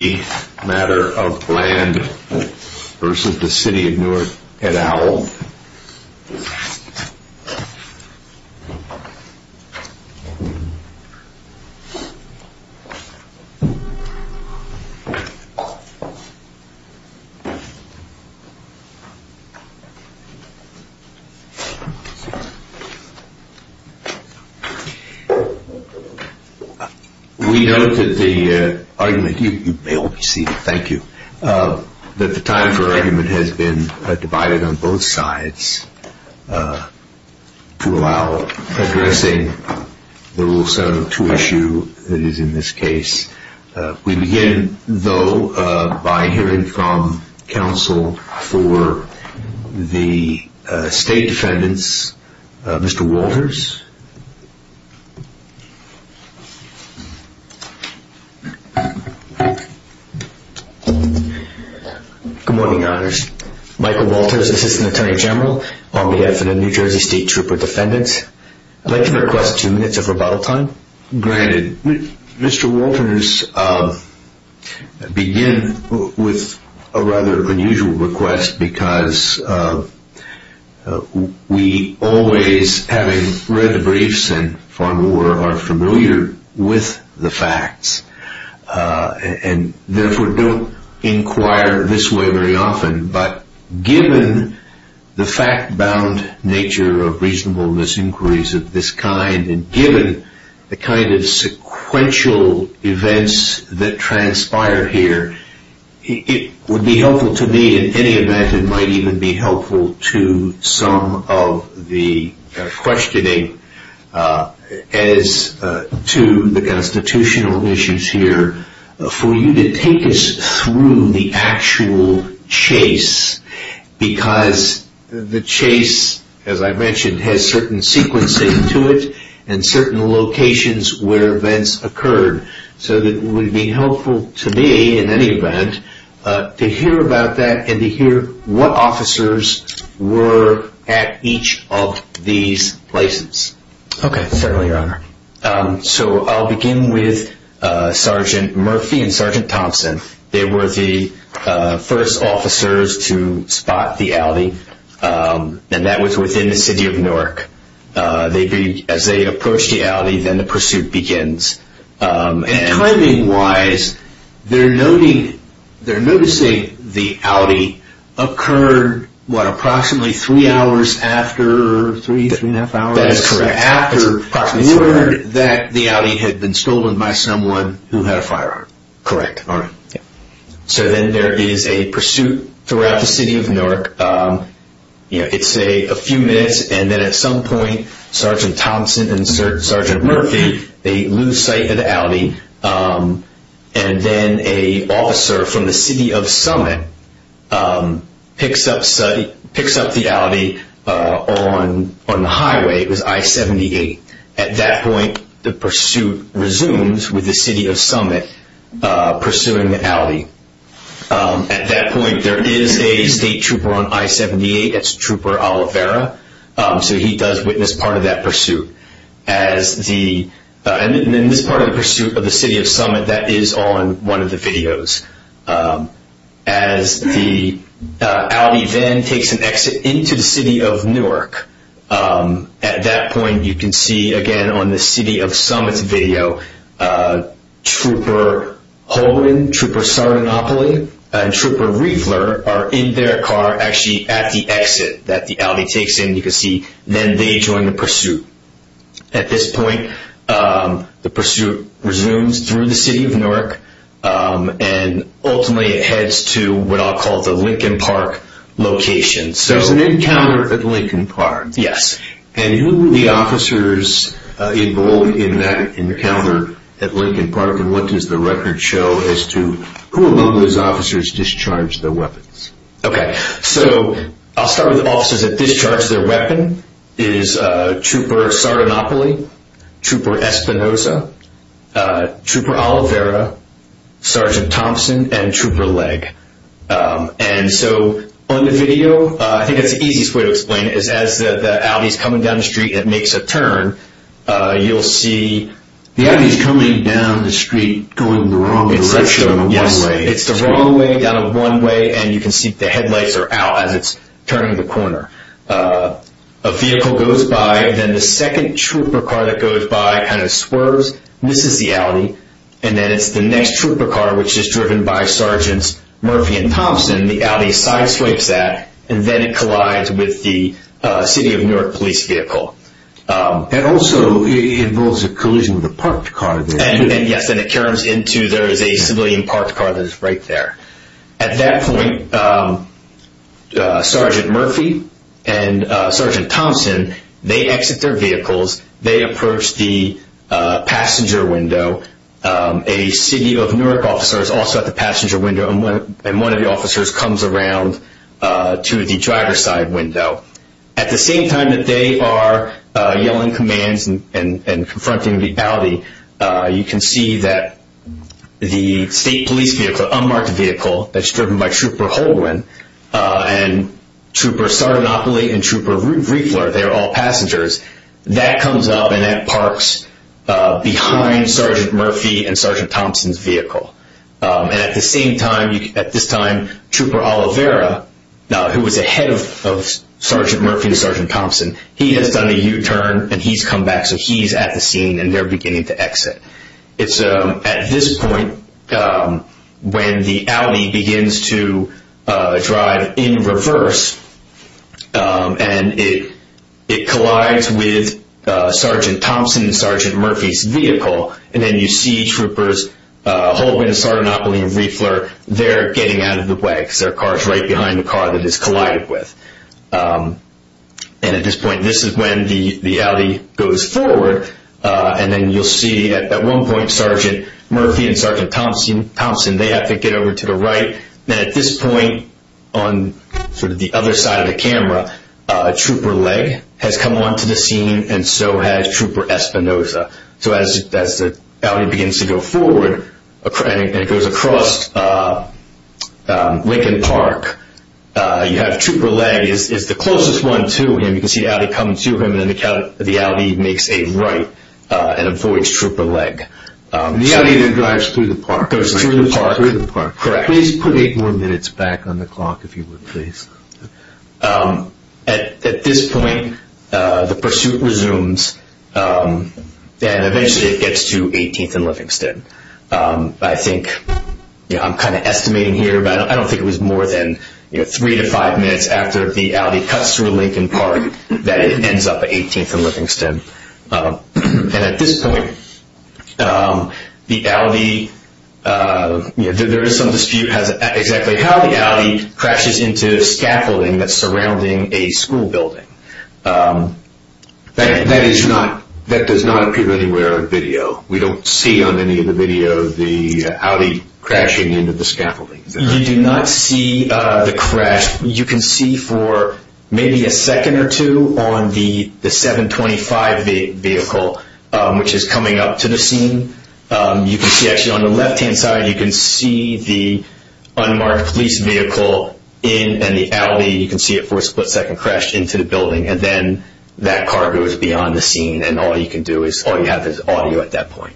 The matter of Bland versus the City of Newark at OWL. We know that the argument, you may all be seated, thank you, that the time for argument has been divided on both sides to allow addressing the rule 702 issue that is in this case. We begin though by hearing from counsel for the state defendants, Mr. Walters. Good morning, Michael Walters, Assistant Attorney General on behalf of the New Jersey State Trooper Defendants. I would like to request two minutes of rebuttal time. Mr. Walters, I begin with a rather unusual request because we always have read the briefs and are familiar with the facts and therefore don't inquire this way very often but given the fact-bound nature of reasonable misinquiries of this kind and given the kind of sequential events that transpire here, it would be helpful to me in any event, it might even be helpful to some of the questioning as to the constitutional issues here for you to take us through the actual chase because the chase, as I mentioned, has certain sequencing to it and certain locations where events occurred so it would be helpful to me in any event to hear about that and to hear what officers were at each of these places. Okay, certainly, Your Honor. So I'll begin with Sergeant Murphy and Sergeant Thompson. They were the first officers to spot the ALDI and that was within the city of Newark. As they approached the ALDI, then the pursuit begins. And timing-wise, they're noticing the ALDI occurred, what, approximately three hours after the ALDI had been stolen by someone who had a firearm? Correct. So then there is a pursuit throughout the city of Newark, it's a few minutes and then at some point Sergeant Thompson and Sergeant Murphy, they lose sight of the ALDI and then an officer from the city of Summit picks up the ALDI on the highway, it was I-78. At that point, the pursuit resumes with the city of Summit pursuing the ALDI. At that point, there is a state trooper on I-78, it's Trooper Oliveira, so he does witness part of that pursuit, and this is part of the pursuit of the city of Summit that is on one of the videos. As the ALDI then takes an exit into the city of Newark, at that point you can see again on the city of Summit's video, Trooper Holden, Trooper Sardinopoli, and Trooper Riefler are in their car actually at the exit that the ALDI takes in, you can see, then they join the pursuit. At this point, the pursuit resumes through the city of Newark and ultimately it heads to what I'll call the Lincoln Park location. So there's an encounter at Lincoln Park? Yes. And who were the officers involved in that encounter at Lincoln Park and what does the Okay, so I'll start with the officers that discharged their weapon, it is Trooper Sardinopoli, Trooper Espinoza, Trooper Oliveira, Sergeant Thompson, and Trooper Legg. And so on the video, I think that's the easiest way to explain it, is as the ALDI's coming down the street and it makes a turn, you'll see... The ALDI's coming down the street going the wrong direction in a one-way. And you can see the headlights are out as it's turning the corner. A vehicle goes by, then the second trooper car that goes by kind of swerves, misses the ALDI, and then it's the next trooper car which is driven by Sergeants Murphy and Thompson, the ALDI sideswipes that, and then it collides with the city of Newark police vehicle. And also, it involves a collision with a parked car. And yes, and it turns into there is a civilian parked car that is right there. At that point, Sergeant Murphy and Sergeant Thompson, they exit their vehicles, they approach the passenger window, a city of Newark officer is also at the passenger window, and one of the officers comes around to the driver's side window. At the same time that they are yelling commands and confronting the ALDI, you can see that the state police vehicle, unmarked vehicle, that's driven by Trooper Holdwin and Trooper Sarnopoli and Trooper Riefler, they're all passengers, that comes up and that parks behind Sergeant Murphy and Sergeant Thompson's vehicle. And at the same time, at this time, Trooper Oliveira, who was ahead of Sergeant Murphy and Sergeant Thompson, he has done a U-turn and he's come back, so he's at the scene and they're beginning to exit. It's at this point when the ALDI begins to drive in reverse and it collides with Sergeant Thompson and Sergeant Murphy's vehicle, and then you see Troopers Holdwin, Sarnopoli and Riefler, they're getting out of the way because their car is right behind the car that it's collided with. And at this point, this is when the ALDI goes forward and then you'll see at one point, Sergeant Murphy and Sergeant Thompson, they have to get over to the right. Then at this point, on the other side of the camera, Trooper Legg has come onto the scene and so has Trooper Espinoza. So as the ALDI begins to go forward and it goes across Lincoln Park, you have Trooper Legg is the closest one to him. You can see ALDI come to him and then the ALDI makes a right and avoids Trooper Legg. The ALDI then drives through the park. Goes through the park. Correct. Please put eight more minutes back on the clock, if you would, please. At this point, the pursuit resumes and eventually it gets to 18th and Livingston. I think I'm kind of estimating here, but I don't think it was more than three to five minutes after the ALDI cuts through Lincoln Park that it ends up at 18th and Livingston. And at this point, the ALDI, there is some dispute as to exactly how the ALDI crashes into the scaffolding that's surrounding a school building. That does not appear anywhere on video. We don't see on any of the video the ALDI crashing into the scaffolding. You do not see the crash. You can see for maybe a second or two on the 725 vehicle, which is coming up to the scene. You can see actually on the left hand side, you can see the unmarked police vehicle in and the ALDI, you can see it for a split second, crashed into the building and then that car goes beyond the scene and all you can do is all you have is audio at that point.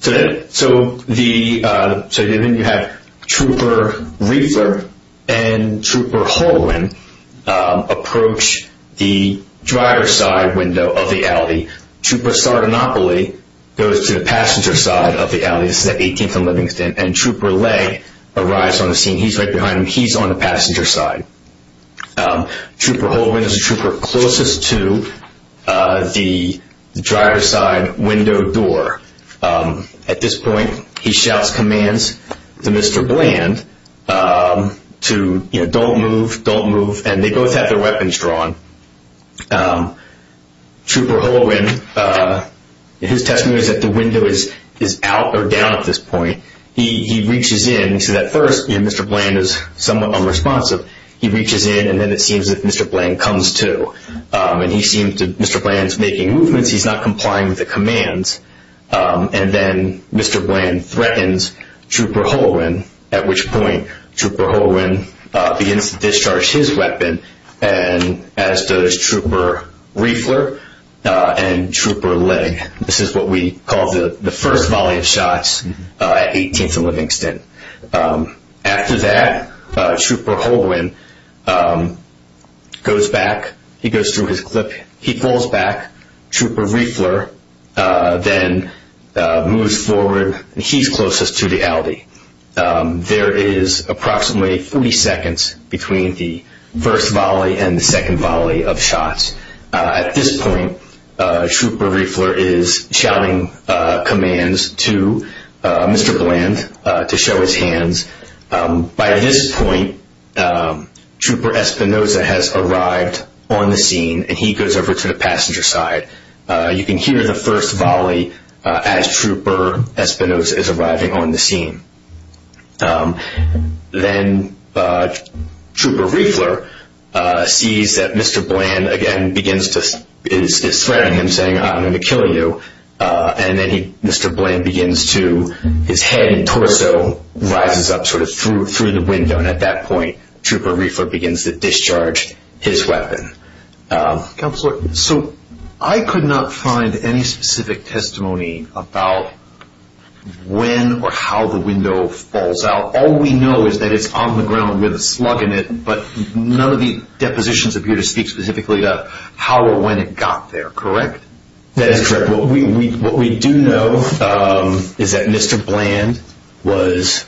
So then you have Trooper Riefler and Trooper Holowin approach the dryer side window of the ALDI. Trooper Sardinopoli goes to the passenger side of the ALDI, this is at 18th and Livingston, and Trooper Lay arrives on the scene. He's right behind him. He's on the passenger side. Trooper Holowin is the trooper closest to the dryer side window door. At this point, he shouts commands to Mr. Bland to don't move, don't move. And they both have their weapons drawn. Trooper Holowin, his testimony is that the window is out or down at this point. He reaches into that first and Mr. Bland is somewhat unresponsive. He reaches in and then it seems that Mr. Bland comes to and he seems to Mr. Bland's making movements. He's not complying with the commands. And then Mr. Bland threatens Trooper Holowin, at which point Trooper Holowin begins to discharge his weapon and as does Trooper Riefler and Trooper Lay. This is what we call the first volley of shots at 18th and Livingston. After that, Trooper Holowin goes back. He goes through his clip. He falls back. Trooper Riefler then moves forward. He's closest to the alley. There is approximately 40 seconds between the first volley and the second volley of shots. At this point, Trooper Riefler is shouting commands to Mr. Bland to show his hands. By this point, Trooper Espinoza has arrived on the scene and he goes over to the passenger side. You can hear the first volley as Trooper Espinoza is arriving on the scene. Then Trooper Riefler sees that Mr. Bland again begins to is swearing and saying, I'm going to kill you. And then he Mr. Bland begins to his head and torso rises up sort of through through the window. And at that point, Trooper Riefler begins to discharge his weapon. Counselor, so I could not find any specific testimony about when or how the window falls out. All we know is that it's on the ground with a slug in it. But none of the depositions appear to speak specifically about how or when it got there. Correct. That is correct. What we what we do know is that Mr. Bland was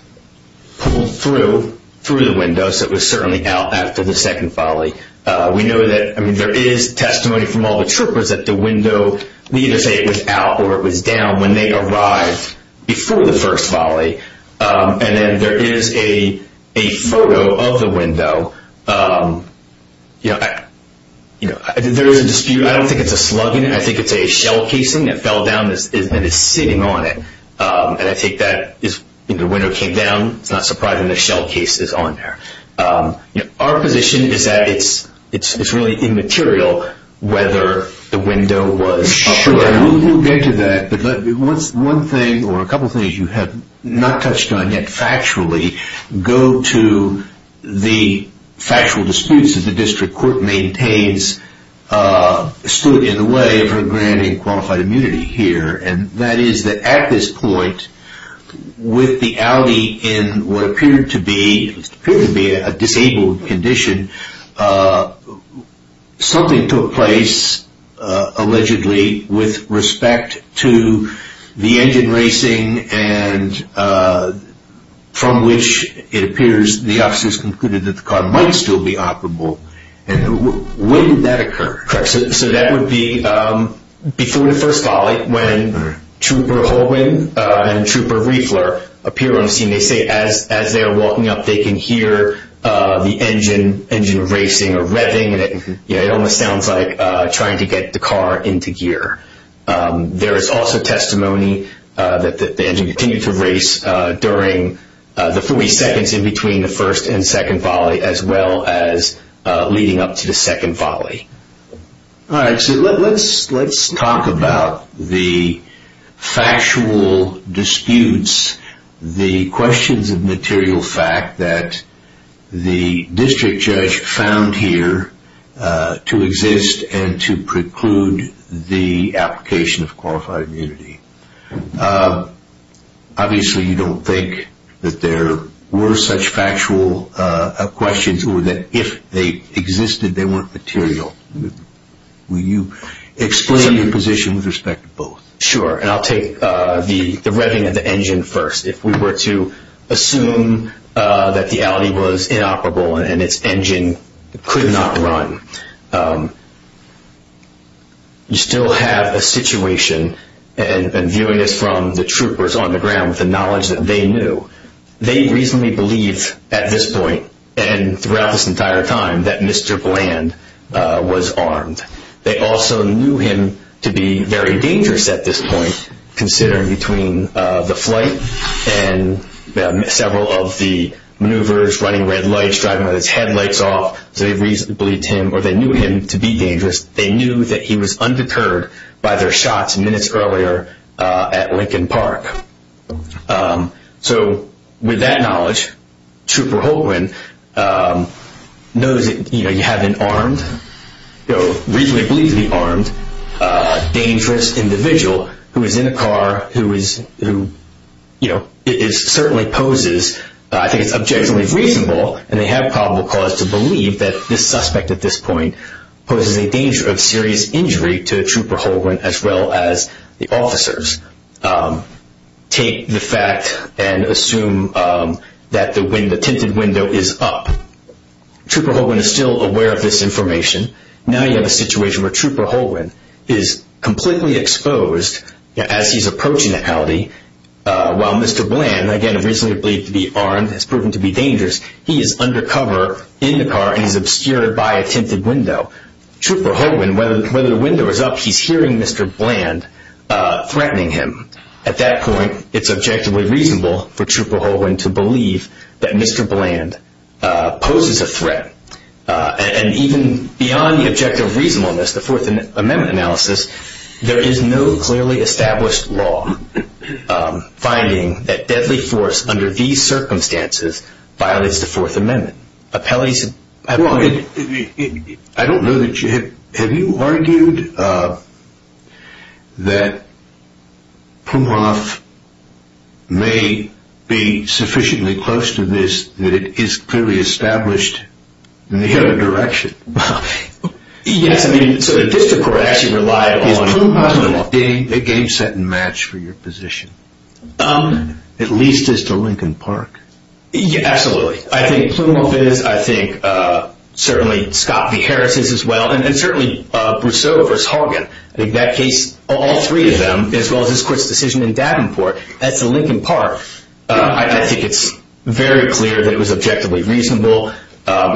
pulled through through the window. So it was certainly out after the second volley. We know that there is testimony from all the troopers at the window. We either say it was out or it was down when they arrived before the first volley. And then there is a photo of the window. So, you know, there is a dispute. I don't think it's a slug in it. I think it's a shell casing that fell down that is sitting on it. And I think that is the window came down. It's not surprising. The shell case is on there. Our position is that it's it's really immaterial whether the window was up or down. We'll get to that. But once one thing or a couple of things you have not touched on yet factually go to the factual disputes that the district court maintains stood in the way of her granting qualified immunity here. And that is that at this point with the Audi in what appeared to be a disabled condition, something took place allegedly with respect to the engine racing and from which it would still be operable. And when did that occur? So that would be before the first volley when Trooper Holwin and Trooper Riefler appear on the scene, they say as as they are walking up, they can hear the engine engine racing or revving. It almost sounds like trying to get the car into gear. There is also testimony that the engine continued to race during the 40 seconds in between the first and second volley, as well as leading up to the second volley. All right. So let's let's talk about the factual disputes, the questions of material fact that the district judge found here to exist and to preclude the application of qualified immunity. Obviously, you don't think that there were such factual questions or that if they existed, they weren't material. Will you explain your position with respect to both? Sure. And I'll take the revving of the engine first. If we were to assume that the Audi was inoperable and its engine could not run. You still have a situation and viewing this from the troopers on the ground with the knowledge that they knew. They reasonably believe at this point and throughout this entire time that Mr. Bland was armed. They also knew him to be very dangerous at this point, considering between the flight and several of the maneuvers, running red lights, driving with his headlights off. So they reasonably believe him or they knew him to be dangerous. They knew that he was undeterred by their shots minutes earlier at Lincoln Park. So with that knowledge, Trooper Holguin knows that you have an armed, reasonably believed to be armed, dangerous individual who is in a car, who is, you know, is certainly poses. I think it's objectively reasonable and they have probable cause to believe that this suspect at this point poses a danger of serious injury to Trooper Holguin as well as the officers. Take the fact and assume that when the tinted window is up, Trooper Holguin is still aware of this information. Now you have a situation where Trooper Holguin is completely exposed as he's approaching the municipality while Mr. Bland, again reasonably believed to be armed, has proven to be dangerous. He is undercover in the car and he's obscured by a tinted window. Trooper Holguin, whether the window is up, he's hearing Mr. Bland threatening him. At that point, it's objectively reasonable for Trooper Holguin to believe that Mr. Bland poses a threat. And even beyond the objective reasonableness, the Fourth Amendment analysis, there is no established law finding that deadly force under these circumstances violates the Fourth Amendment. I don't know that you have, have you argued that Pumhoff may be sufficiently close to this that it is clearly established in the other direction? Well, yes. I mean, so the district court actually relied on Pumhoff being a game set and match for your position. At least as to Lincoln Park. Absolutely. I think Pumhoff is, I think certainly Scott v. Harris is as well, and certainly Brousseau v. Holguin. In that case, all three of them, as well as this court's decision in Davenport, as to Lincoln Park, I think it's very clear that it was objectively reasonable. And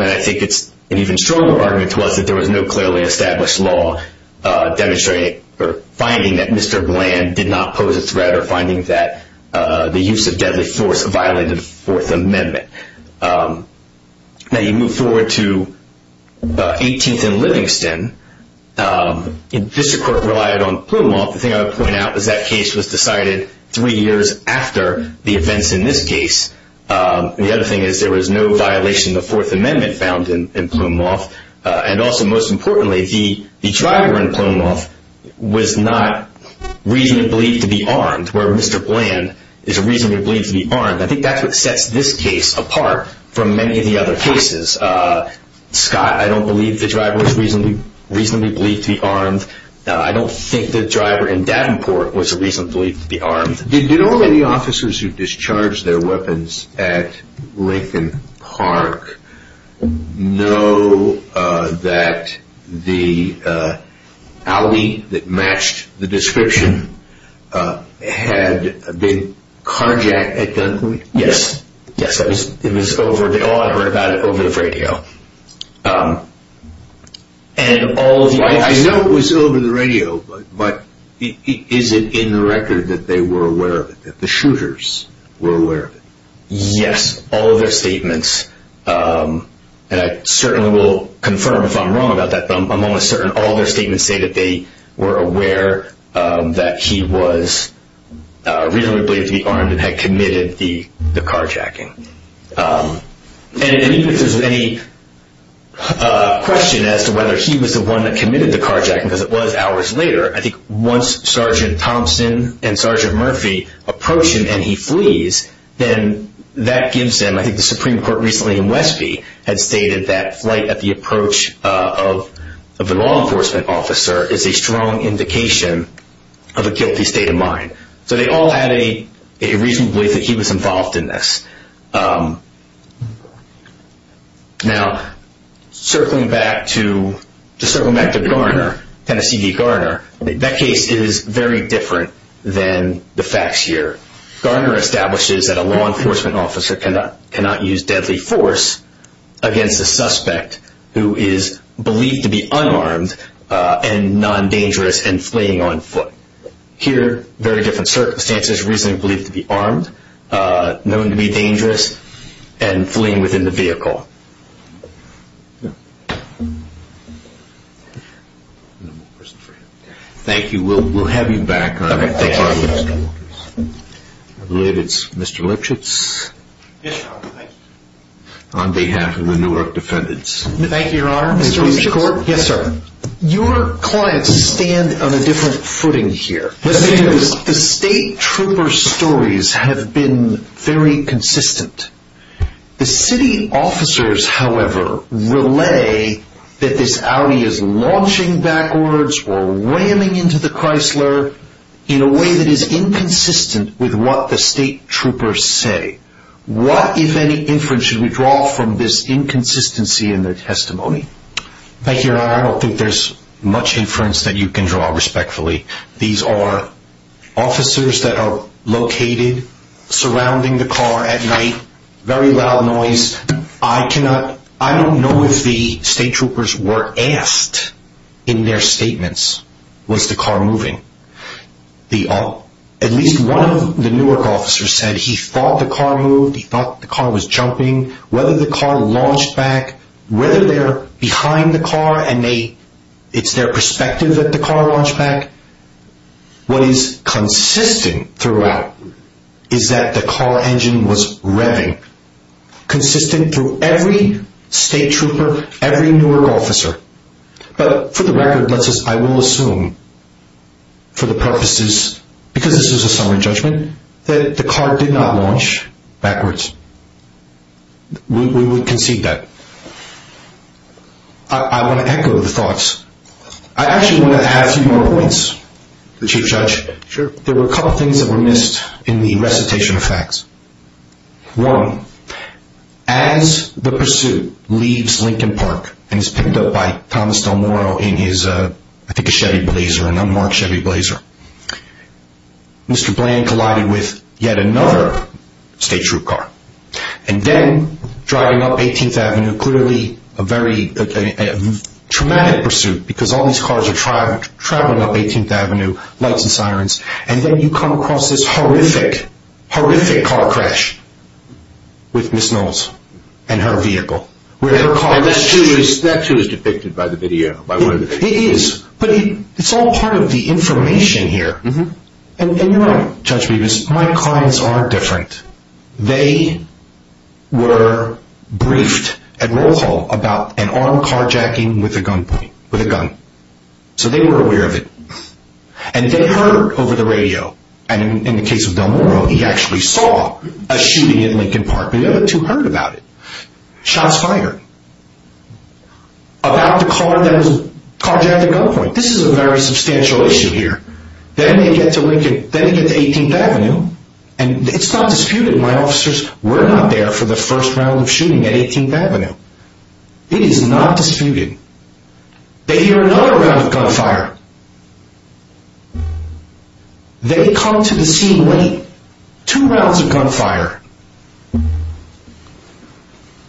I think it's an even stronger argument to us that there was no clearly established law demonstrating or finding that Mr. Bland did not pose a threat or finding that the use of deadly force violated the Fourth Amendment. Now you move forward to 18th and Livingston. District Court relied on Pumhoff. The thing I would point out is that case was decided three years after the events in this case. The other thing is there was no violation of the Fourth Amendment found in Pumhoff. And also, most importantly, the driver in Pumhoff was not reasonably believed to be armed, where Mr. Bland is reasonably believed to be armed. I think that's what sets this case apart from many of the other cases. Scott, I don't believe the driver was reasonably believed to be armed. I don't think the driver in Davenport was reasonably believed to be armed. Did all of the officers who discharged their weapons at Lincoln Park know that the alley that matched the description had been carjacked at Dunkley? Yes. Yes, it was over the radio. I know it was over the radio, but is it in the record that they were aware of it, that the shooters were aware of it? Yes, all of their statements. And I certainly will confirm if I'm wrong about that, but I'm almost certain all their statements say that they were aware that he was reasonably believed to be armed and had committed the carjacking. And even if there's any question as to whether he was the one that committed the carjacking, because it was hours later, I think once Sergeant Thompson and Sergeant Murphy approach him and he flees, then that gives them, I think the Supreme Court recently in Westby had stated that flight at the approach of the law enforcement officer is a strong indication of a guilty state of mind. So they all had a reasonable belief that he was involved in this. Now, circling back to Garner, Tennessee v. Garner, that case is very different than the facts here. Garner establishes that a law enforcement officer cannot use deadly force against a suspect who is believed to be unarmed and non-dangerous and fleeing on foot. Here, very different circumstances, reasonably believed to be armed, known to be dangerous, and fleeing within the vehicle. Thank you. We'll have you back. Mr. Lipschitz, on behalf of the Newark defendants. Thank you, Your Honor. Mr. Lipschitz. Yes, sir. Your clients stand on a different footing here. The state trooper stories have been very consistent. The city officers, however, relay that this Audi is launching backwards or ramming into the Chrysler in a way that is inconsistent with what the state troopers say. What, if any, inference should we draw from this inconsistency in their testimony? Thank you, Your Honor. I don't think there's much inference that you can draw respectfully. These are officers that are located surrounding the car at night, very loud noise. I don't know if the state troopers were asked in their statements, was the car moving? At least one of the Newark officers said he thought the car moved, he thought the car was jumping. Whether the car launched back, whether they're behind the car and it's their perspective that the car launched back, what is consistent throughout is that the car engine was revving, consistent through every state trooper, every Newark officer. But for the record, I will assume for the purposes, because this is a summary judgment, that the car did not launch backwards. We would concede that. I want to echo the thoughts. I actually want to add a few more points, Mr. Judge. There were a couple things that were missed in the recitation of facts. One, as the pursuit leaves Lincoln Park and is picked up by Thomas Del Moro in his, I think a Chevy Blazer, an unmarked Chevy Blazer, Mr. Bland collided with yet another state troop car. Then driving up 18th Avenue, clearly a very traumatic pursuit, because all these cars are traveling up 18th Avenue, lights and sirens, and then you come across this horrific, horrific car crash with Ms. Knowles and her vehicle. That too is depicted by the video. It is, but it's all part of the information here. You're right, Judge Bevis, my clients are different. They were briefed at roll call about an armed carjacking with a gunpoint, with a gun, so they were aware of it. They heard over the radio, and in the case of Del Moro, he actually saw a shooting at Lincoln Park, but the other two heard about it. Shots fired about the car that was carjacking gunpoint. This is a very substantial issue here. Then they get to Lincoln, then they get to 18th Avenue, and it's not disputed, my officers, we're not there for the first round of shooting at 18th Avenue. It is not disputed. They hear another round of gunfire. They come to the scene with two rounds of gunfire.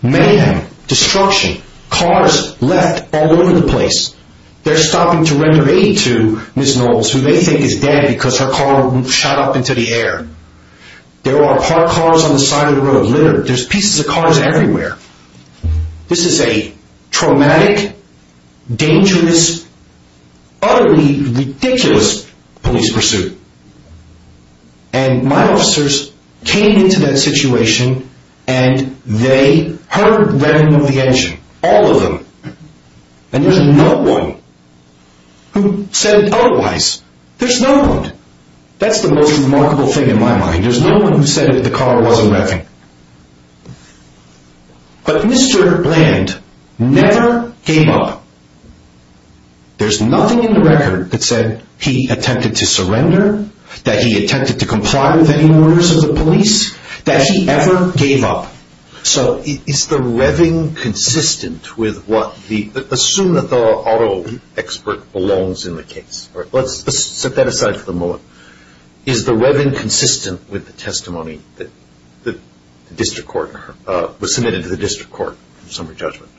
Mayhem, destruction, cars left all over the place. They're stopping to render aid to Ms. Knowles, who they think is dead because her car shot up into the air. There are parked cars on the side of the road, littered. There's pieces of cars everywhere. This is a traumatic, dangerous, utterly ridiculous police pursuit, and my officers came into that situation, and they heard running of the engine, all of them. And there's no one who said otherwise. There's no one. That's the most remarkable thing in my mind. There's no one who said that the car wasn't revving. But Mr. Bland never gave up. There's nothing in the record that said he attempted to surrender, that he attempted to comply with any orders of the police, that he ever gave up. So is the revving consistent with what the, assume that the auto expert belongs in the case. Let's set that aside for the moment. Is the revving consistent with the testimony that the district court, was submitted to the district court in summary judgment?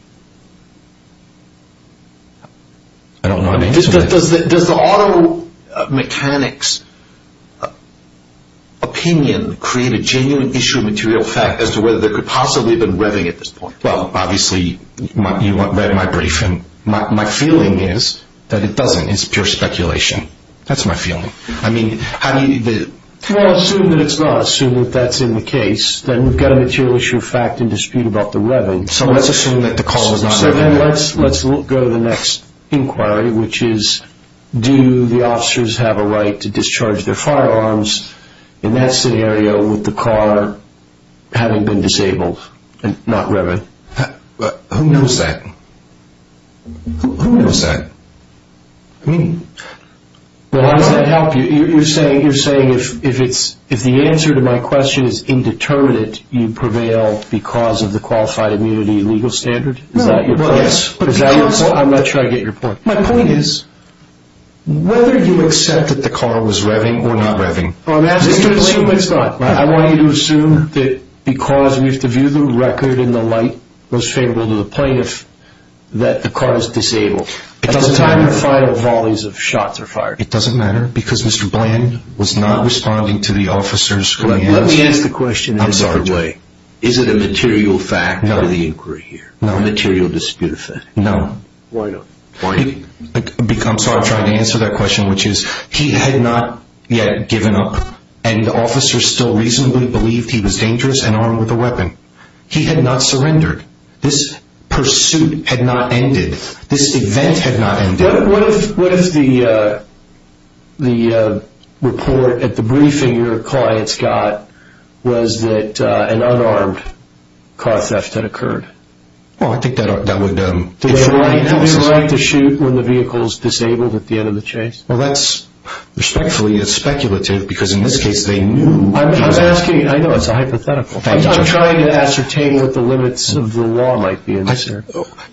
I don't know. Does the auto mechanic's opinion create a genuine issue of material fact as to whether there could possibly have been revving at this point? Well, obviously, you read my brief, and my feeling is that it doesn't. It's pure speculation. That's my feeling. I mean, how do you? Well, assume that it's not. Assume that that's in the case. Then we've got a material issue of fact and dispute about the revving. So let's assume that the car was not revving. Let's go to the next inquiry, which is, do the officers have a right to discharge their firearms in that scenario with the car having been disabled and not revving? Who knows that? Who knows that? Well, how does that help you? You're saying if the answer to my question is indeterminate, you prevail because of the qualified immunity legal standard? Is that your point? Yes. But is that your point? I'm not sure I get your point. My point is whether you accept that the car was revving or not revving. Well, I'm asking you to believe it's not. I want you to assume that because we have to view the record in the light most favorable to the plaintiff that the car is disabled at the time the final volleys of shots are fired. It doesn't matter because Mr. Bland was not responding to the officer's command. Let me ask the question in a different way. Is it a material fact out of the inquiry here? Material dispute effect? No. Why not? I'm sorry I'm trying to answer that question, which is he had not yet given up and the officer still reasonably believed he was dangerous and armed with a weapon. He had not surrendered. This pursuit had not ended. This event had not ended. What if the report at the briefing your clients got was that an unarmed car theft had occurred? Well, I think that would... Do they have the right to shoot when the vehicle is disabled at the end of the chase? Well, that's respectfully speculative because in this case they knew... I'm asking... I know it's a hypothetical. I'm trying to ascertain what the limits of the law might be in this case.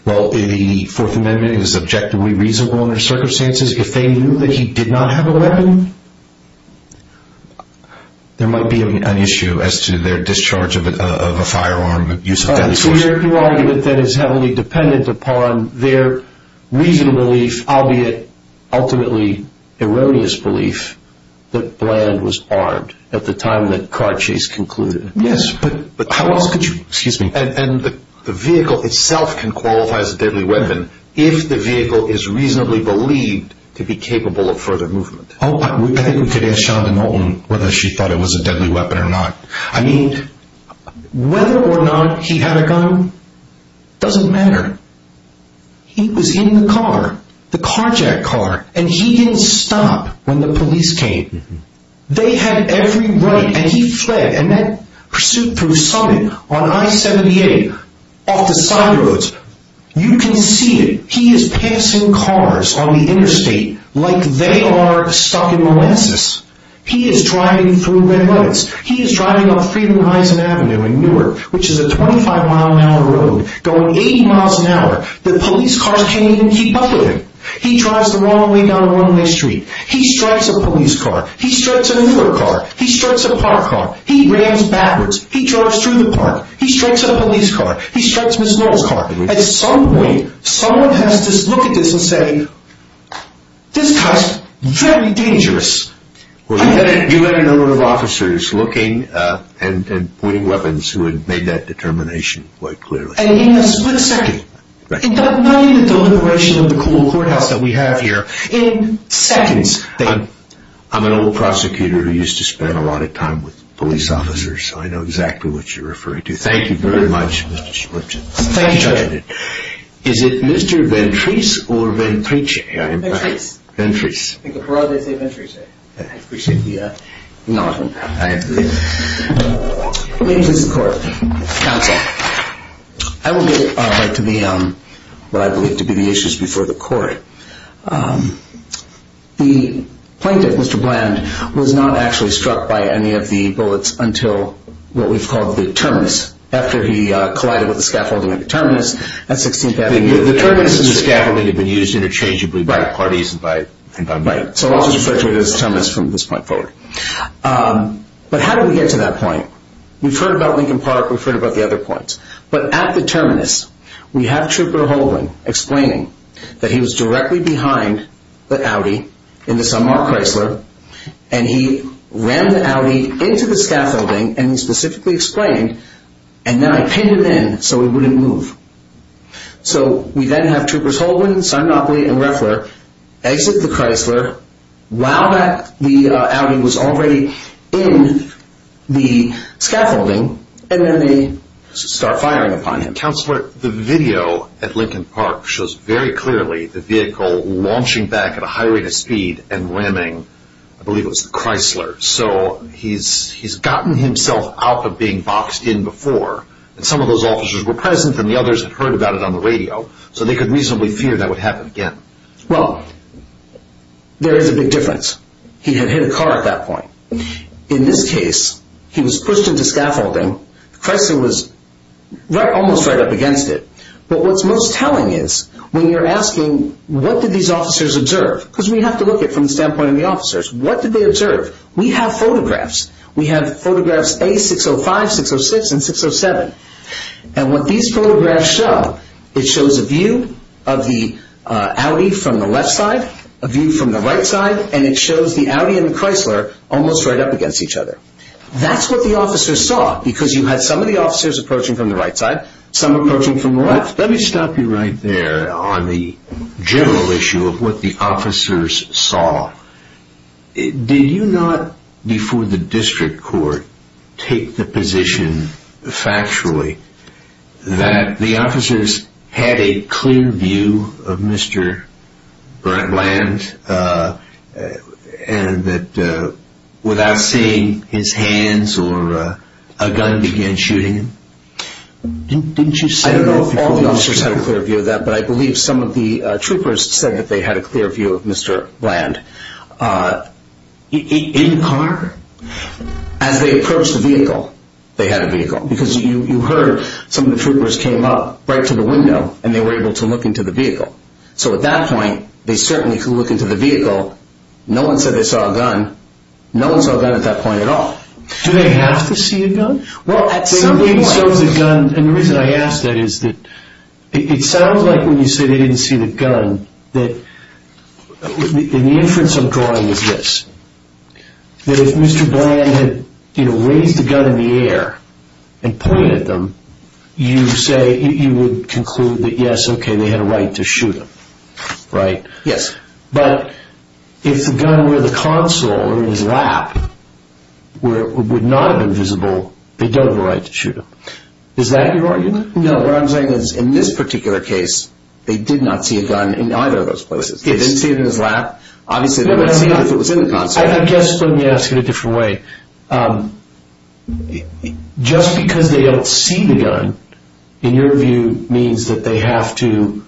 Well, if the Fourth Amendment is objectively reasonable in their circumstances, if they knew that he did not have a weapon, there might be an issue as to their discharge of a firearm use of deadly force. Your argument then is heavily dependent upon their reasonable belief, albeit ultimately erroneous belief, that Bland was armed at the time the car chase concluded. Yes, but how else could you... Excuse me. And the vehicle itself can qualify as a deadly weapon if the vehicle is reasonably believed to be capable of further movement. Oh, I think we could ask Shonda Nolton whether she thought it was a deadly weapon or not. I mean, whether or not he had a gun doesn't matter. He was in the car, the carjack car, and he didn't stop when the police came. They had every right... And he fled, and that pursuit through Summit on I-78, off the side roads, you can see it. He is passing cars on the interstate like they are stuck in Molasses. He is driving through red lights. He is driving on Freedom Heisen Avenue in Newark, which is a 25-mile-an-hour road going 80 miles an hour that police cars can't even keep up with him. He drives the wrong way down a one-way street. He strikes a police car. He strikes another car. He strikes a park car. He rams backwards. He drives through the park. He strikes a police car. He strikes Ms. Lowe's car. At some point, someone has to look at this and say, this guy's very dangerous. Well, you had a number of officers looking and pointing weapons who had made that determination quite clearly. And in a split second, in the deliberation of the courthouse that we have here, in seconds... I'm an old prosecutor who used to spend a lot of time with police officers, so I know exactly what you're referring to. Thank you very much, Mr. Schmertzen. Thank you, Judge. Is it Mr. Ventris or Ventrice? Ventrice. Ventrice. I think a broad day saved Ventrice. I appreciate the acknowledgement. I agree. Ladies and gentlemen of the court, counsel, I will get right to what I believe to be the issues before the court. The plaintiff, Mr. Bland, was not actually struck by any of the bullets until what we've called the terminus, after he collided with the scaffolding at the terminus at 16th Avenue. The terminus and the scaffolding had been used interchangeably by parties and by so I'll just refer to it as the terminus from this point forward. But how did we get to that point? We've heard about Lincoln Park. We've heard about the other points. But at the terminus, we have Trooper Holden explaining that he was directly behind the Audi in the Sunmark Chrysler, and he ran the Audi into the scaffolding, and he specifically explained, and then I pinned him in so he wouldn't move. So we then have Troopers Holden, Simonopoli, and Roeffler exit the Chrysler while the Audi was already in the scaffolding, and then they start firing upon him. Counselor, the video at Lincoln Park shows very clearly the vehicle launching back at a high rate of speed and ramming, I believe it was the Chrysler. So he's gotten himself out of being boxed in before, and some of those officers were heard about it on the radio, so they could reasonably fear that would happen again. Well, there is a big difference. He had hit a car at that point. In this case, he was pushed into scaffolding. Chrysler was almost right up against it. But what's most telling is when you're asking, what did these officers observe? Because we have to look at it from the standpoint of the officers. What did they observe? We have photographs. We have photographs A605, 606, and 607. And what these photographs show, it shows a view of the Audi from the left side, a view from the right side, and it shows the Audi and the Chrysler almost right up against each other. That's what the officers saw, because you had some of the officers approaching from the right side, some approaching from the left. Let me stop you right there on the general issue of what the officers saw. Did you not, before the district court, take the position factually that the officers had a clear view of Mr. Bland, and that without seeing his hands or a gun began shooting him? Didn't you say that before? I don't know if all the officers had a clear view of that, but I believe some of the troopers said that they had a clear view of Mr. Bland. In the car? As they approached the vehicle, they had a vehicle, because you heard some of the troopers came up right to the window, and they were able to look into the vehicle. So at that point, they certainly could look into the vehicle. No one said they saw a gun. No one saw a gun at that point at all. Do they have to see a gun? Well, at some point. They may have seen a gun, and the reason I ask that is that it sounds like when you say they didn't see the gun, the inference I'm drawing is this. That if Mr. Bland had raised the gun in the air and pointed at them, you would conclude that yes, okay, they had a right to shoot him, right? Yes. But if the gun were in the console or in his lap, would not have been visible, they don't have a right to shoot him. Is that your argument? No. What I'm saying is in this particular case, they did not see a gun in either of those places. They didn't see it in his lap. Obviously, they wouldn't see it if it was in the console. I guess let me ask it a different way. Just because they don't see the gun, in your view, means that they have to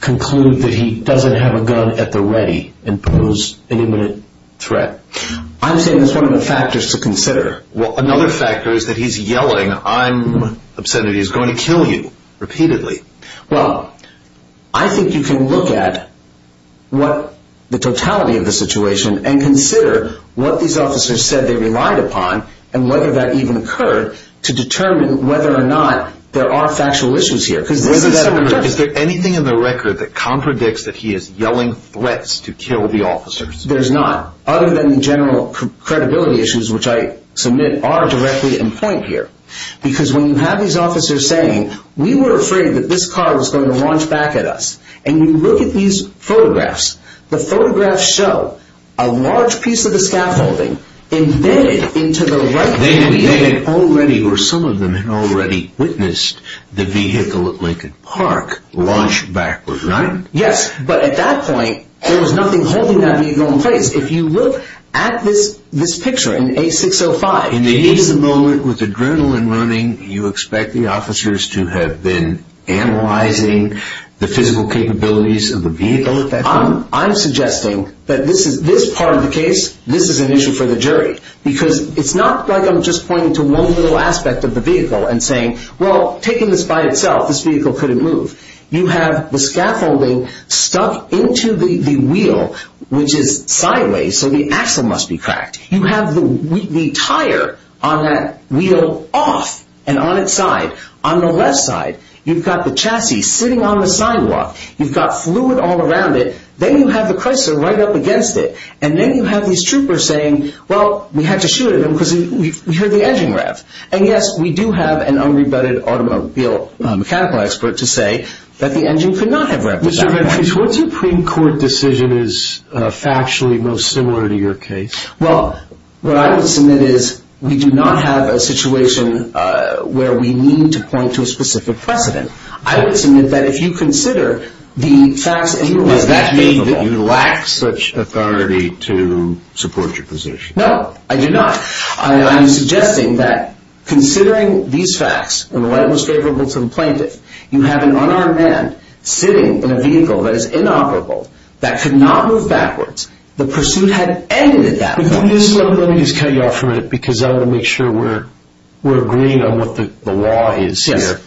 conclude that he doesn't have a gun at the ready and pose an imminent threat. I'm saying that's one of the factors to consider. Another factor is that he's yelling, I'm upset that he's going to kill you repeatedly. I think you can look at the totality of the situation and consider what these officers said they relied upon and whether that even occurred to determine whether or not there are factual issues here. Is there anything in the record that contradicts that he is yelling threats to kill the officers? There's not, other than the general credibility issues, which I submit are directly in point here. Because when you have these officers saying, we were afraid that this car was going to launch back at us. And you look at these photographs, the photographs show a large piece of the scaffolding embedded into the right vehicle. They had already or some of them had already witnessed the vehicle at Lincoln Park launch backwards, right? Yes. But at that point, there was nothing holding that vehicle in place. If you look at this picture in A605. In the age of the moment with adrenaline running, you expect the officers to have been analyzing the physical capabilities of the vehicle. I'm suggesting that this part of the case, this is an issue for the jury. Because it's not like I'm just pointing to one little aspect of the vehicle and saying, well, taking this by itself, this vehicle couldn't move. You have the scaffolding stuck into the wheel, which is sideways. So the axle must be cracked. You have the tire on that wheel off and on its side. On the left side, you've got the chassis sitting on the sidewalk. You've got fluid all around it. Then you have the Chrysler right up against it. And then you have these troopers saying, well, we had to shoot at them because we heard the engine rev. And yes, we do have an unrebutted automobile mechanical expert to say that the engine could not have revved that far. Mr. Ventris, what Supreme Court decision is factually most similar to your case? Well, what I would submit is we do not have a situation where we need to point to a specific precedent. I would submit that if you consider the facts in your case. Does that mean that you lack such authority to support your position? No, I do not. I'm suggesting that considering these facts, and the light was favorable to the plaintiff, you have an unarmed man sitting in a vehicle that is inoperable that could not move backwards. The pursuit had ended at that point. Let me just cut you off for a minute because I want to make sure we're agreeing on what the law is here.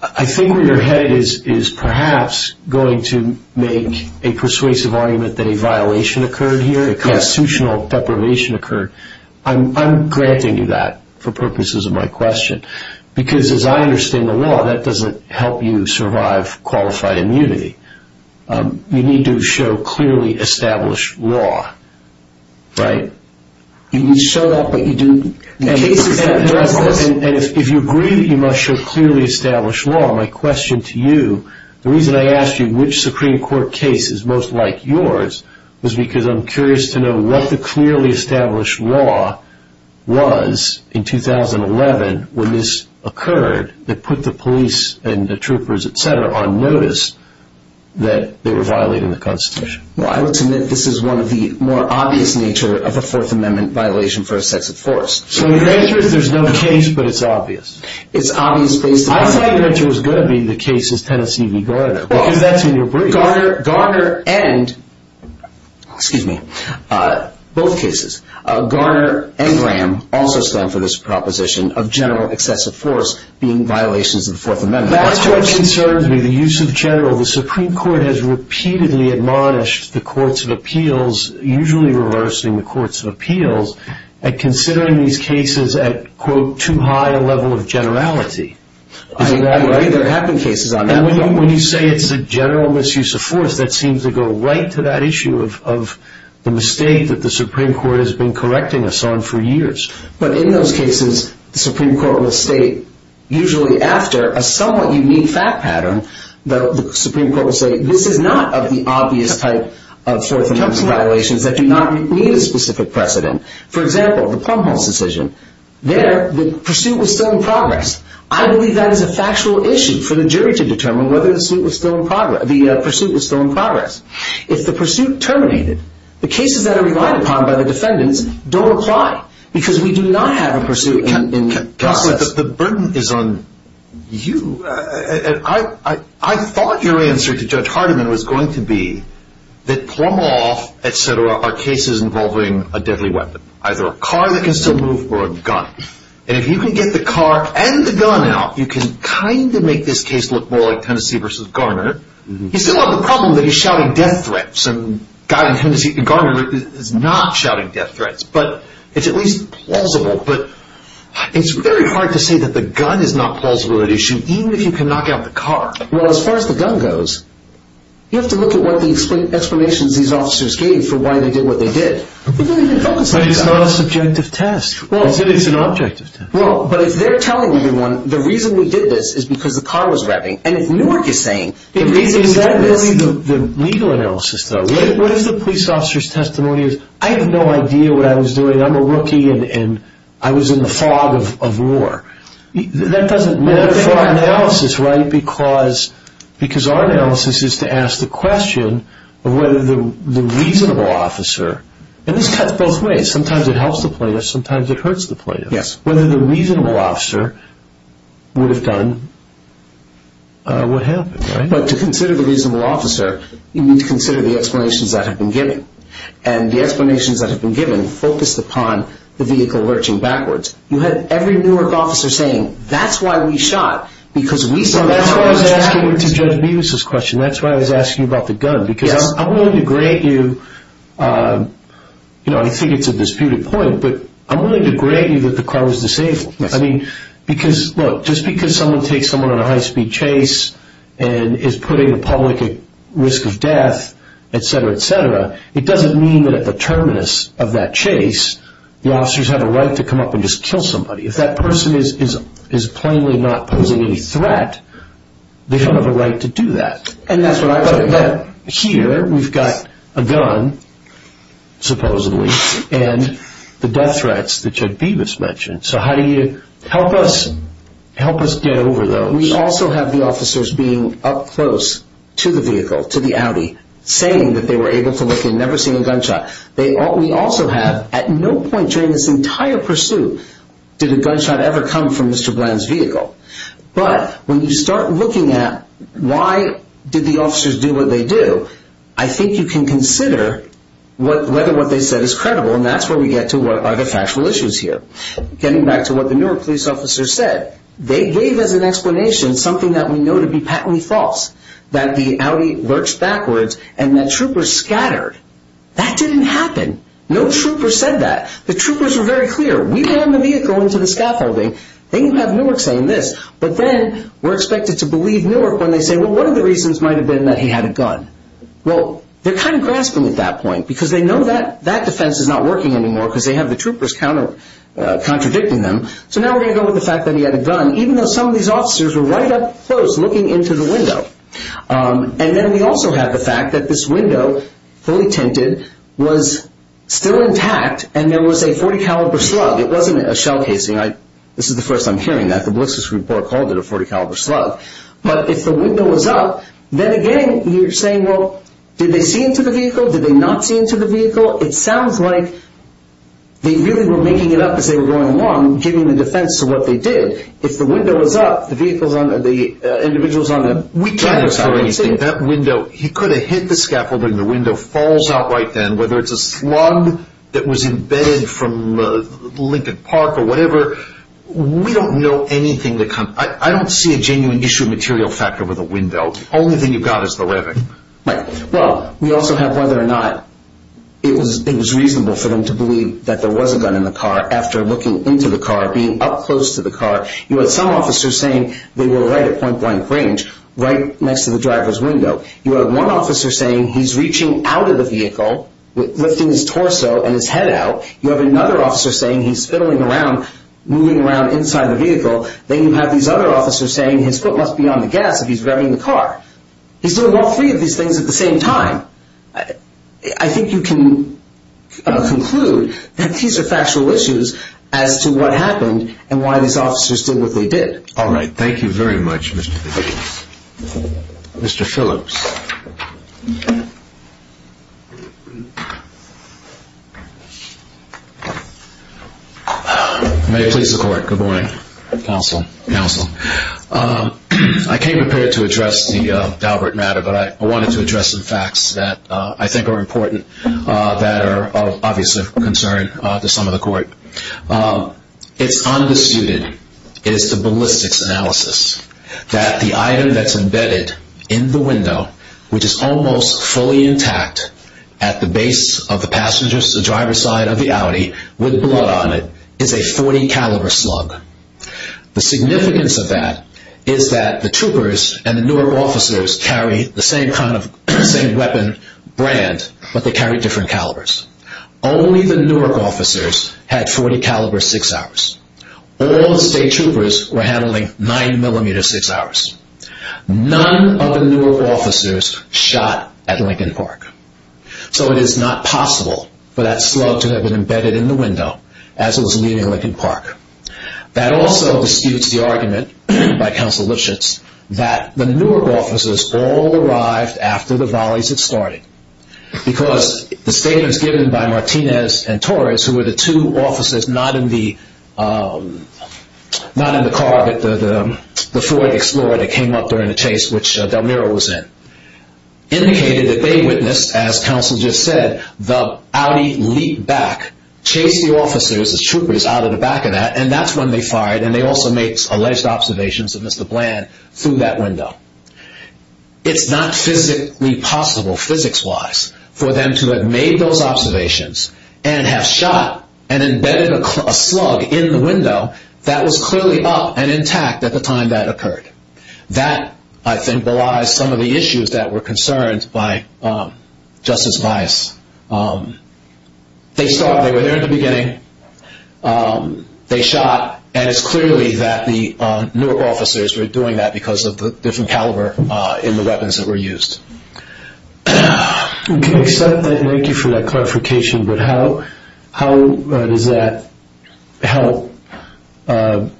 I think where you're headed is perhaps going to make a persuasive argument that a violation occurred here. A constitutional deprivation occurred. I'm granting you that for purposes of my question. Because as I understand the law, that doesn't help you survive qualified immunity. You need to show clearly established law. Right. You show that, but you do cases that address this. And if you agree that you must show clearly established law, my question to you, the reason I asked you which Supreme Court case is most like yours was because I'm curious to know what the clearly established law was in 2011 when this occurred that put the police and the troopers, etc., on notice that they were violating the Constitution. I would submit this is one of the more obvious nature of a Fourth Amendment violation for a sex of force. So your answer is there's no case, but it's obvious? It's obvious based on... I thought your answer was going to be the cases Tennessee v. Garner, because that's in your brief. Garner and, excuse me, both cases. Garner and Graham also stand for this proposition of general excessive force being violations of the Fourth Amendment. That's what concerns me. The use of general. The Supreme Court has repeatedly admonished the courts of appeals, usually reversing the courts of appeals, at considering these cases at, quote, too high a level of generality. I agree there have been cases on that level. When you say it's a general misuse of force, that seems to go right to that issue of the mistake that the Supreme Court has been correcting us on for years. But in those cases, the Supreme Court will state, usually after a somewhat unique fact pattern, the Supreme Court will say, this is not of the obvious type of Fourth Amendment violations that do not meet a specific precedent. For example, the Plum Halls decision. There, the pursuit was still in progress. I believe that is a factual issue for the jury to determine whether the pursuit was still in progress. If the pursuit terminated, the cases that are relied upon by the defendants don't apply because we do not have a pursuit in process. The burden is on you. I thought your answer to Judge Hardiman was going to be that Plum Hall, et cetera, are cases involving a deadly weapon, either a car that can still move or a gun. And if you can get the car and the gun out, you can kind of make this case look more like Tennessee v. Garner. You still have the problem that he's shouting death threats, and Garner is not shouting death threats. But it's at least plausible. But it's very hard to say that the gun is not plausible at issue, even if you can knock out the car. Well, as far as the gun goes, you have to look at what the explanations these officers gave for why they did what they did. They didn't even focus on the gun. But it's not a subjective test. It's an objective test. Well, but if they're telling everyone, the reason we did this is because the car was revving, and if Newark is saying the reason we did this... Is that really the legal analysis, though? What if the police officer's testimony is, I have no idea what I was doing. I'm a rookie, and I was in the fog of war. That doesn't matter for our analysis, right? Because our analysis is to ask the question of whether the reasonable officer... And this cuts both ways. Sometimes it helps the plaintiff. Sometimes it hurts the plaintiff. Yes. Whether the reasonable officer would have done what happened, right? But to consider the reasonable officer, you need to consider the explanations that have been given. And the explanations that have been given focused upon the vehicle lurching backwards. You had every Newark officer saying, that's why we shot, because we said... So that's why I was asking you to judge Mevis' question. That's why I was asking you about the gun. I'm willing to grant you... I think it's a disputed point, but I'm willing to grant you that the car was disabled. Just because someone takes someone on a high-speed chase and is putting the public at risk of death, etc., etc., it doesn't mean that at the terminus of that chase, the officers have a right to come up and just kill somebody. If that person is plainly not posing any threat, they don't have a right to do that. And that's what I'm talking about. Here, we've got a gun, supposedly, and the death threats that Chuck Bevis mentioned. So how do you help us get over those? We also have the officers being up close to the vehicle, to the Audi, saying that they were able to look and never seen a gunshot. We also have, at no point during this entire pursuit did a gunshot ever come from Mr. Did the officers do what they do? I think you can consider whether what they said is credible, and that's where we get to what are the factual issues here. Getting back to what the Newark police officer said, they gave as an explanation something that we know to be patently false, that the Audi lurched backwards and that troopers scattered. That didn't happen. No trooper said that. The troopers were very clear. We ran the vehicle into the scaffolding. Then you have Newark saying this. But then we're expected to believe Newark when they say, well, one of the reasons might have been that he had a gun. Well, they're kind of grasping at that point, because they know that that defense is not working anymore, because they have the troopers contradicting them. So now we're going to go with the fact that he had a gun, even though some of these officers were right up close looking into the window. And then we also have the fact that this window, fully tinted, was still intact, and there was a .40 caliber slug. It wasn't a shell casing. This is the first I'm hearing that. The ballistics report called it a .40 caliber slug. But if the window was up, then again, you're saying, well, did they see into the vehicle? Did they not see into the vehicle? It sounds like they really were making it up as they were going along, giving the defense to what they did. If the window was up, the vehicles on the, the individuals on the- We can't discover anything. That window, he could have hit the scaffolding. The window falls out right then, whether it's a slug that was embedded from Lincoln Park or whatever. We don't know anything that comes- I don't see a genuine issue of material factor with a window. Only thing you've got is the revving. Right. Well, we also have whether or not it was reasonable for them to believe that there was a gun in the car after looking into the car, being up close to the car. You had some officers saying they were right at point blank range, right next to the driver's window. You had one officer saying he's reaching out of the vehicle, lifting his torso and his head out. You have another officer saying he's fiddling around, moving around inside the vehicle. Then you have these other officers saying his foot must be on the gas if he's revving the car. He's doing all three of these things at the same time. I think you can conclude that these are factual issues as to what happened and why these officers did what they did. All right. Thank you very much, Mr. Davis. Mr. Phillips. May it please the court. Good morning, counsel. I came prepared to address the Daubert matter, but I wanted to address some facts that I think are important that are of obvious concern to some of the court. It's undisputed. It is the ballistics analysis that the item that's embedded in the window, which is almost fully intact at the base of the passenger side of the Audi with blood on it, is a .40 caliber slug. The significance of that is that the troopers and the Newark officers carry the same kind of same weapon brand, but they carry different calibers. Only the Newark officers had .40 caliber six hours. All the state troopers were handling nine millimeter six hours. None of the Newark officers shot at Lincoln Park. So it is not possible for that slug to have been embedded in the window as it was leaving Lincoln Park. That also disputes the argument by counsel Lipschitz that the Newark officers all arrived after the volleys had started because the statements given by Martinez and Torres, who came up during the chase, which Del Niro was in, indicated that they witnessed, as counsel just said, the Audi leap back, chase the officers, the troopers, out of the back of that. And that's when they fired. And they also make alleged observations of Mr. Bland through that window. It's not physically possible, physics wise, for them to have made those observations and have shot and embedded a slug in the window that was clearly up and intact at the time that occurred. That, I think, belies some of the issues that were concerned by Justice Weiss. They stopped. They were there in the beginning. They shot. And it's clearly that the Newark officers were doing that because of the different caliber in the weapons that were used. We can accept that. Thank you for that clarification. But how does that help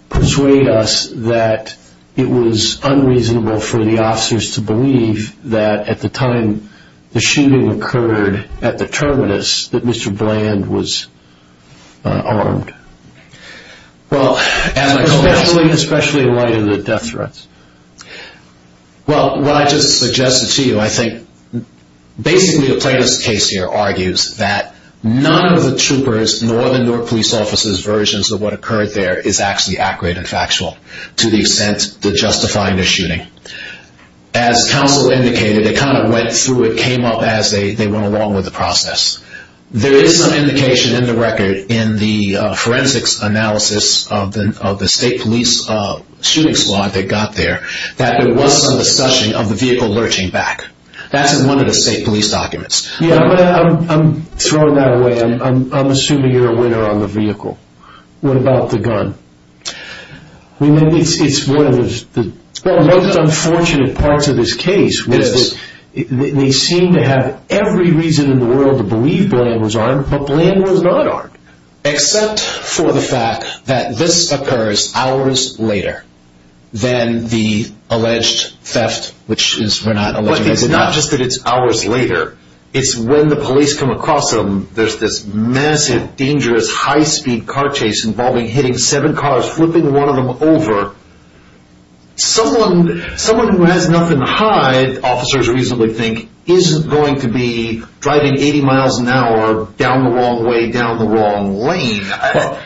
persuade us that it was unreasonable for the officers to believe that at the time the shooting occurred at the terminus that Mr. Bland was armed? Well, especially in light of the death threats. Well, what I just suggested to you, I think, basically a plaintiff's case here argues that none of the troopers, nor the Newark police officers' versions of what occurred there is actually accurate and factual to the extent that justifying the shooting. As counsel indicated, they kind of went through it, came up as they went along with the process. There is some indication in the record in the forensics analysis of the state police shooting squad that got there that there was some discussion of the vehicle lurching back. That's in one of the state police documents. Yeah, but I'm throwing that away. I'm assuming you're a winner on the vehicle. What about the gun? I mean, it's one of the most unfortunate parts of this case. They seem to have every reason in the world to believe Bland was armed, but Bland was not armed. Except for the fact that this occurs hours later than the alleged theft, which is we're not I think it's not just that it's hours later. It's when the police come across them. There's this massive, dangerous, high-speed car chase involving hitting seven cars, flipping one of them over. Someone who has nothing to hide, officers reasonably think, isn't going to be driving 80 miles an hour down the wrong way, down the wrong lane.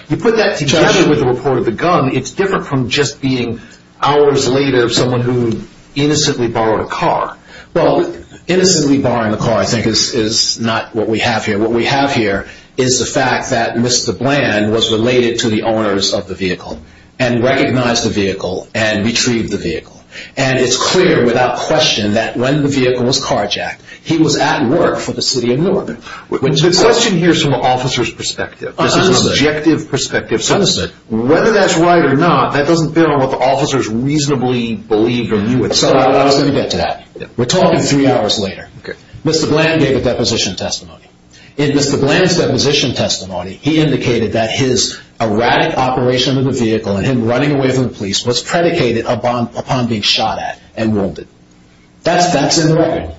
You put that together with the report of the gun, it's different from just being hours later of someone who innocently borrowed a car. Well, innocently borrowing a car, I think, is not what we have here. What we have here is the fact that Mr. Bland was related to the owners of the vehicle, and recognized the vehicle, and retrieved the vehicle. And it's clear without question that when the vehicle was carjacked, he was at work for the city of New Orleans. The question here is from an officer's perspective, this is an objective perspective. Whether that's right or not, that doesn't fit on what the officers reasonably believed or knew at the time. I was going to get to that. We're talking three hours later. Mr. Bland gave a deposition testimony. In Mr. Bland's deposition testimony, he indicated that his erratic operation of the vehicle and him running away from the police was predicated upon being shot at and wounded. That's in the record.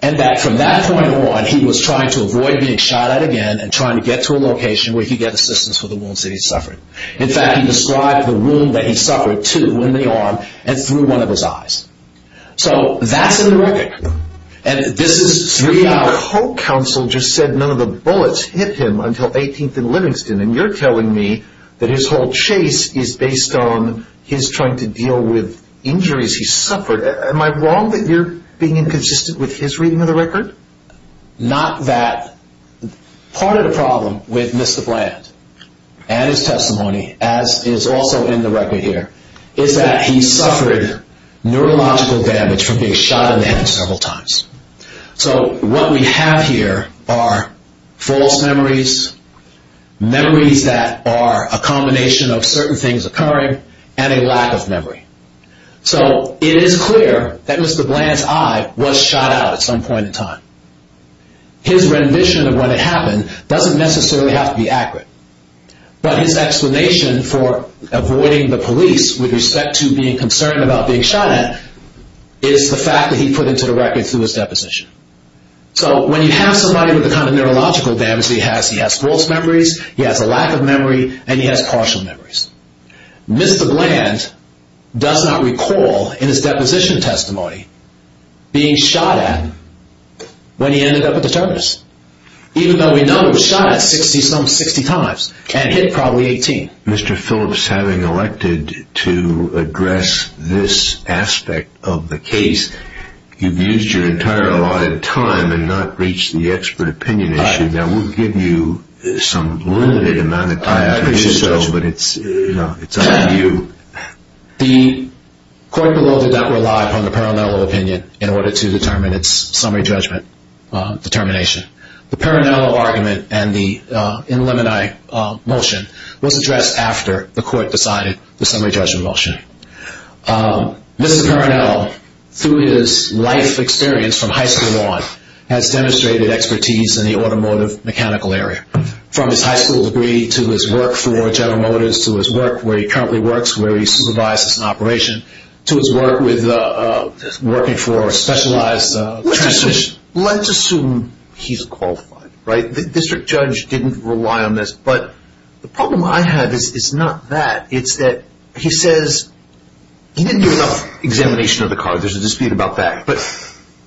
And that from that point on, he was trying to avoid being shot at again, and trying to get to a location where he could get assistance for the wounds that he suffered. In fact, he described the wound that he suffered, too, in the arm and through one of his eyes. So that's in the record. And this is three hours later. Your co-counsel just said none of the bullets hit him until 18th and Livingston. And you're telling me that his whole chase is based on his trying to deal with injuries he suffered. Am I wrong that you're being inconsistent with his reading of the record? Not that. Part of the problem with Mr. Bland and his testimony, as is also in the record here, is that he suffered neurological damage from being shot in the head several times. So what we have here are false memories, memories that are a combination of certain things occurring, and a lack of memory. So it is clear that Mr. Bland's eye was shot out at some point in time. His rendition of what had happened doesn't necessarily have to be accurate. But his explanation for avoiding the police with respect to being concerned about being shot at is the fact that he put into the record through his deposition. So when you have somebody with the kind of neurological damage he has, he has false memories, he has a lack of memory, and he has partial memories. Mr. Bland does not recall in his deposition testimony being shot at when he ended up at the terminus, even though we know he was shot at some 60 times, and hit probably 18. Mr. Phillips, having elected to address this aspect of the case, you've used your entire allotted time and not reached the expert opinion issue. Now we'll give you some limited amount of time to do so, but it's up to you. The court below did not rely upon the Parinello opinion in order to determine its summary judgment determination. The Parinello argument and the in limini motion was addressed after the court decided the summary judgment motion. Mr. Parinello, through his life experience from high school on, has demonstrated expertise in the automotive mechanical area. From his high school degree to his work for General Motors, to his work where he currently works, where he supervises an operation, to his work with working for a specialized transmission. Let's assume he's qualified, right? The district judge didn't rely on this. But the problem I have is not that. It's that he says he didn't do enough examination of the car. There's a dispute about that. But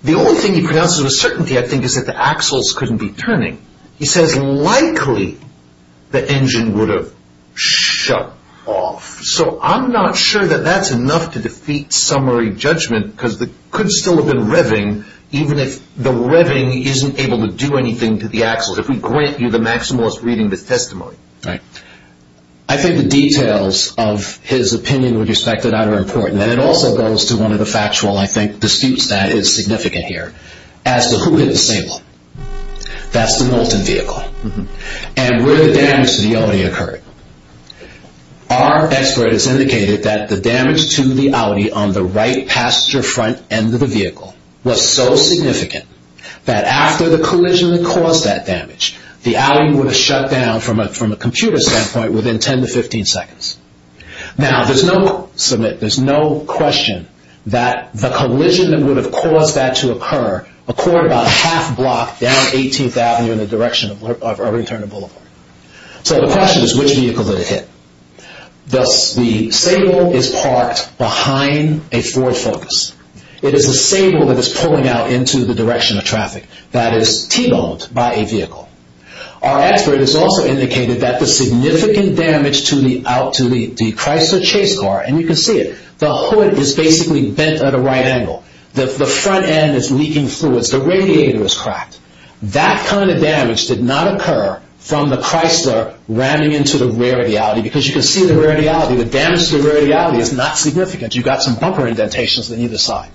the only thing he pronounces with certainty, I think, is that the axles couldn't be turning. He says likely the engine would have shut off. So I'm not sure that that's enough to defeat summary judgment, because it could still have been revving, even if the revving isn't able to do anything to the axles. If we grant you the maximalist reading the testimony. Right. I think the details of his opinion with respect to that are important. And it also goes to one of the factual, I think, disputes that is significant here, as to who did the same one. That's the Knowlton vehicle. And where the damage to the Audi occurred. Our expert has indicated that the damage to the Audi on the right passenger front end of the vehicle was so significant that after the collision that caused that damage, the Audi would have shut down from a computer standpoint within 10 to 15 seconds. Now, there's no question that the collision that would have caused that to down 18th Avenue in the direction of return to Boulevard. So the question is, which vehicle did it hit? Thus, the Sable is parked behind a Ford Focus. It is a Sable that is pulling out into the direction of traffic that is t-boned by a vehicle. Our expert has also indicated that the significant damage to the Chrysler chase car, and you can see it, the hood is basically bent at a right angle. The front end is leaking fluids. The radiator is cracked. That kind of damage did not occur from the Chrysler ramming into the rear of the Audi because you can see the rear of the Audi. The damage to the rear of the Audi is not significant. You've got some bumper indentations on either side.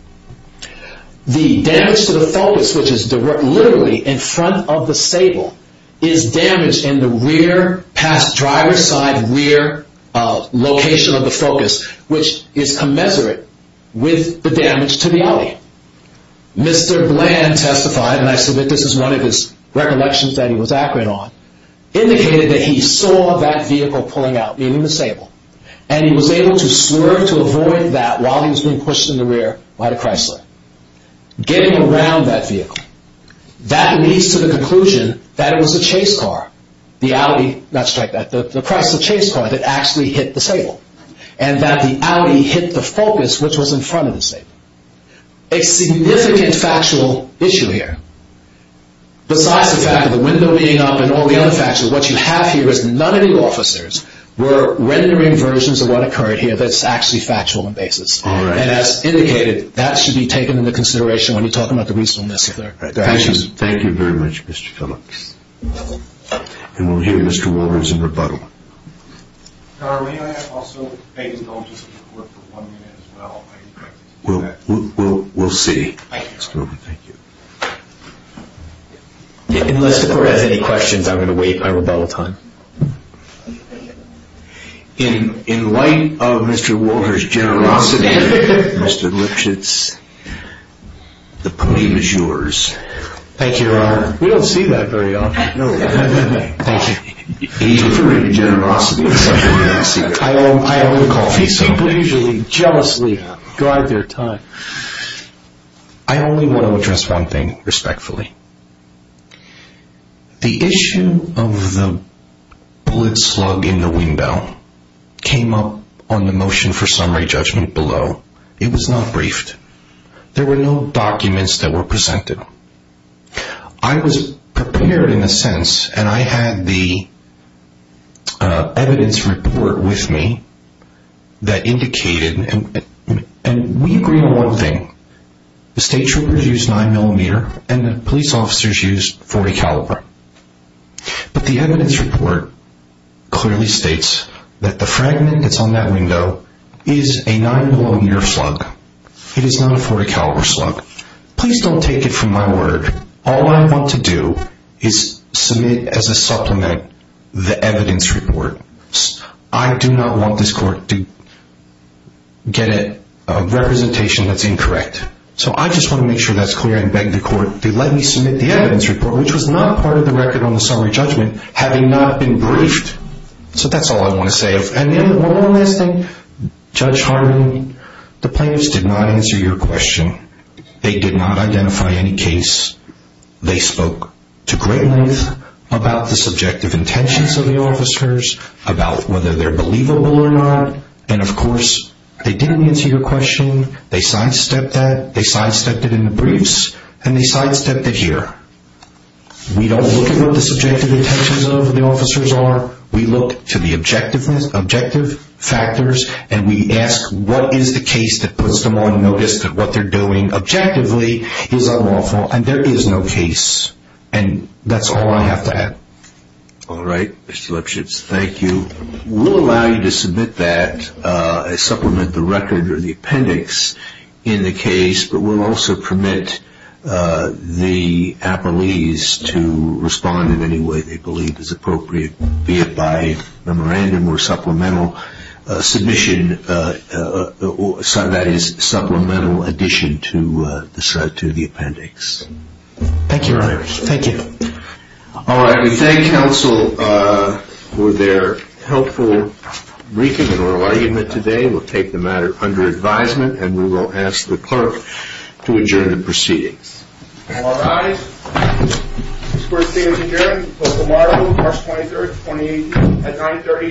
The damage to the Focus, which is literally in front of the Sable, is damaged in the rear, past driver's side rear location of the Focus, which is commensurate with the damage to the Audi. Mr. Bland testified, and I submit this is one of his recollections that he was accurate on, indicated that he saw that vehicle pulling out, meaning the Sable, and he was able to swerve to avoid that while he was being pushed in the rear by the Chrysler. Getting around that vehicle, that leads to the conclusion that it was a chase car, the Audi, not strike that, the Chrysler chase car that actually hit the Sable, and that the Audi hit the Focus, which was in front of the Sable. A significant factual issue here. Besides the fact of the window being up and all the other facts, what you have here is none of the officers were rendering versions of what occurred here that's actually factual in basis, and as indicated, that should be taken into consideration when you talk about the reasonableness of their actions. Thank you very much, Mr. Phillips. And we'll hear Mr. Wolbers in rebuttal. Carl, may I also beg his indulgence in court for one minute as well? I'd like to do that. Thank you, Your Honor. Thank you. Unless the court has any questions, I'm going to wait my rebuttal time. In light of Mr. Wolbers' generosity, Mr. Lipschitz, the podium is yours. Thank you, Your Honor. We don't see that very often. No. Thank you. It's a great generosity. I only call it that. These people usually jealously guide their time. I only want to address one thing respectfully. The issue of the bullet slug in the window came up on the motion for summary judgment below. It was not briefed. There were no documents that were presented. I was prepared in a sense, and I had the evidence report with me that indicated, and we agree on one thing. The state troopers used 9mm, and the police officers used .40 caliber. But the evidence report clearly states that the fragment that's on that window is a 9mm slug. It is not a .40 caliber slug. Please don't take it from my word. All I want to do is submit as a supplement the evidence report. I do not want this court to get a representation that's incorrect. So I just want to make sure that's clear and beg the court to let me submit the evidence report, which was not part of the record on the summary judgment, having not been briefed. So that's all I want to say. One last thing. Judge Harmon, the plaintiffs did not answer your question. They did not identify any case. They spoke to great length about the subjective intentions of the officers, about whether they're believable or not, and of course, they didn't answer your question. They sidestepped that. They sidestepped it in the briefs, and they sidestepped it here. We don't look at what the subjective intentions of the officers are. We look to the objective factors, and we ask what is the case that what they're doing objectively is unlawful, and there is no case. And that's all I have to add. All right, Mr. Lipschitz. Thank you. We'll allow you to submit that, supplement the record or the appendix in the case, but we'll also permit the appellees to respond in any way they believe is appropriate, be it by memorandum or supplemental addition to the appendix. Thank you, Rory. Thank you. All right. We thank counsel for their helpful briefing and oral argument today. We'll take the matter under advisement, and we will ask the clerk to adjourn the proceedings. All rise. This court is adjourned until tomorrow, March 23, 2018, at 9.30 a.m.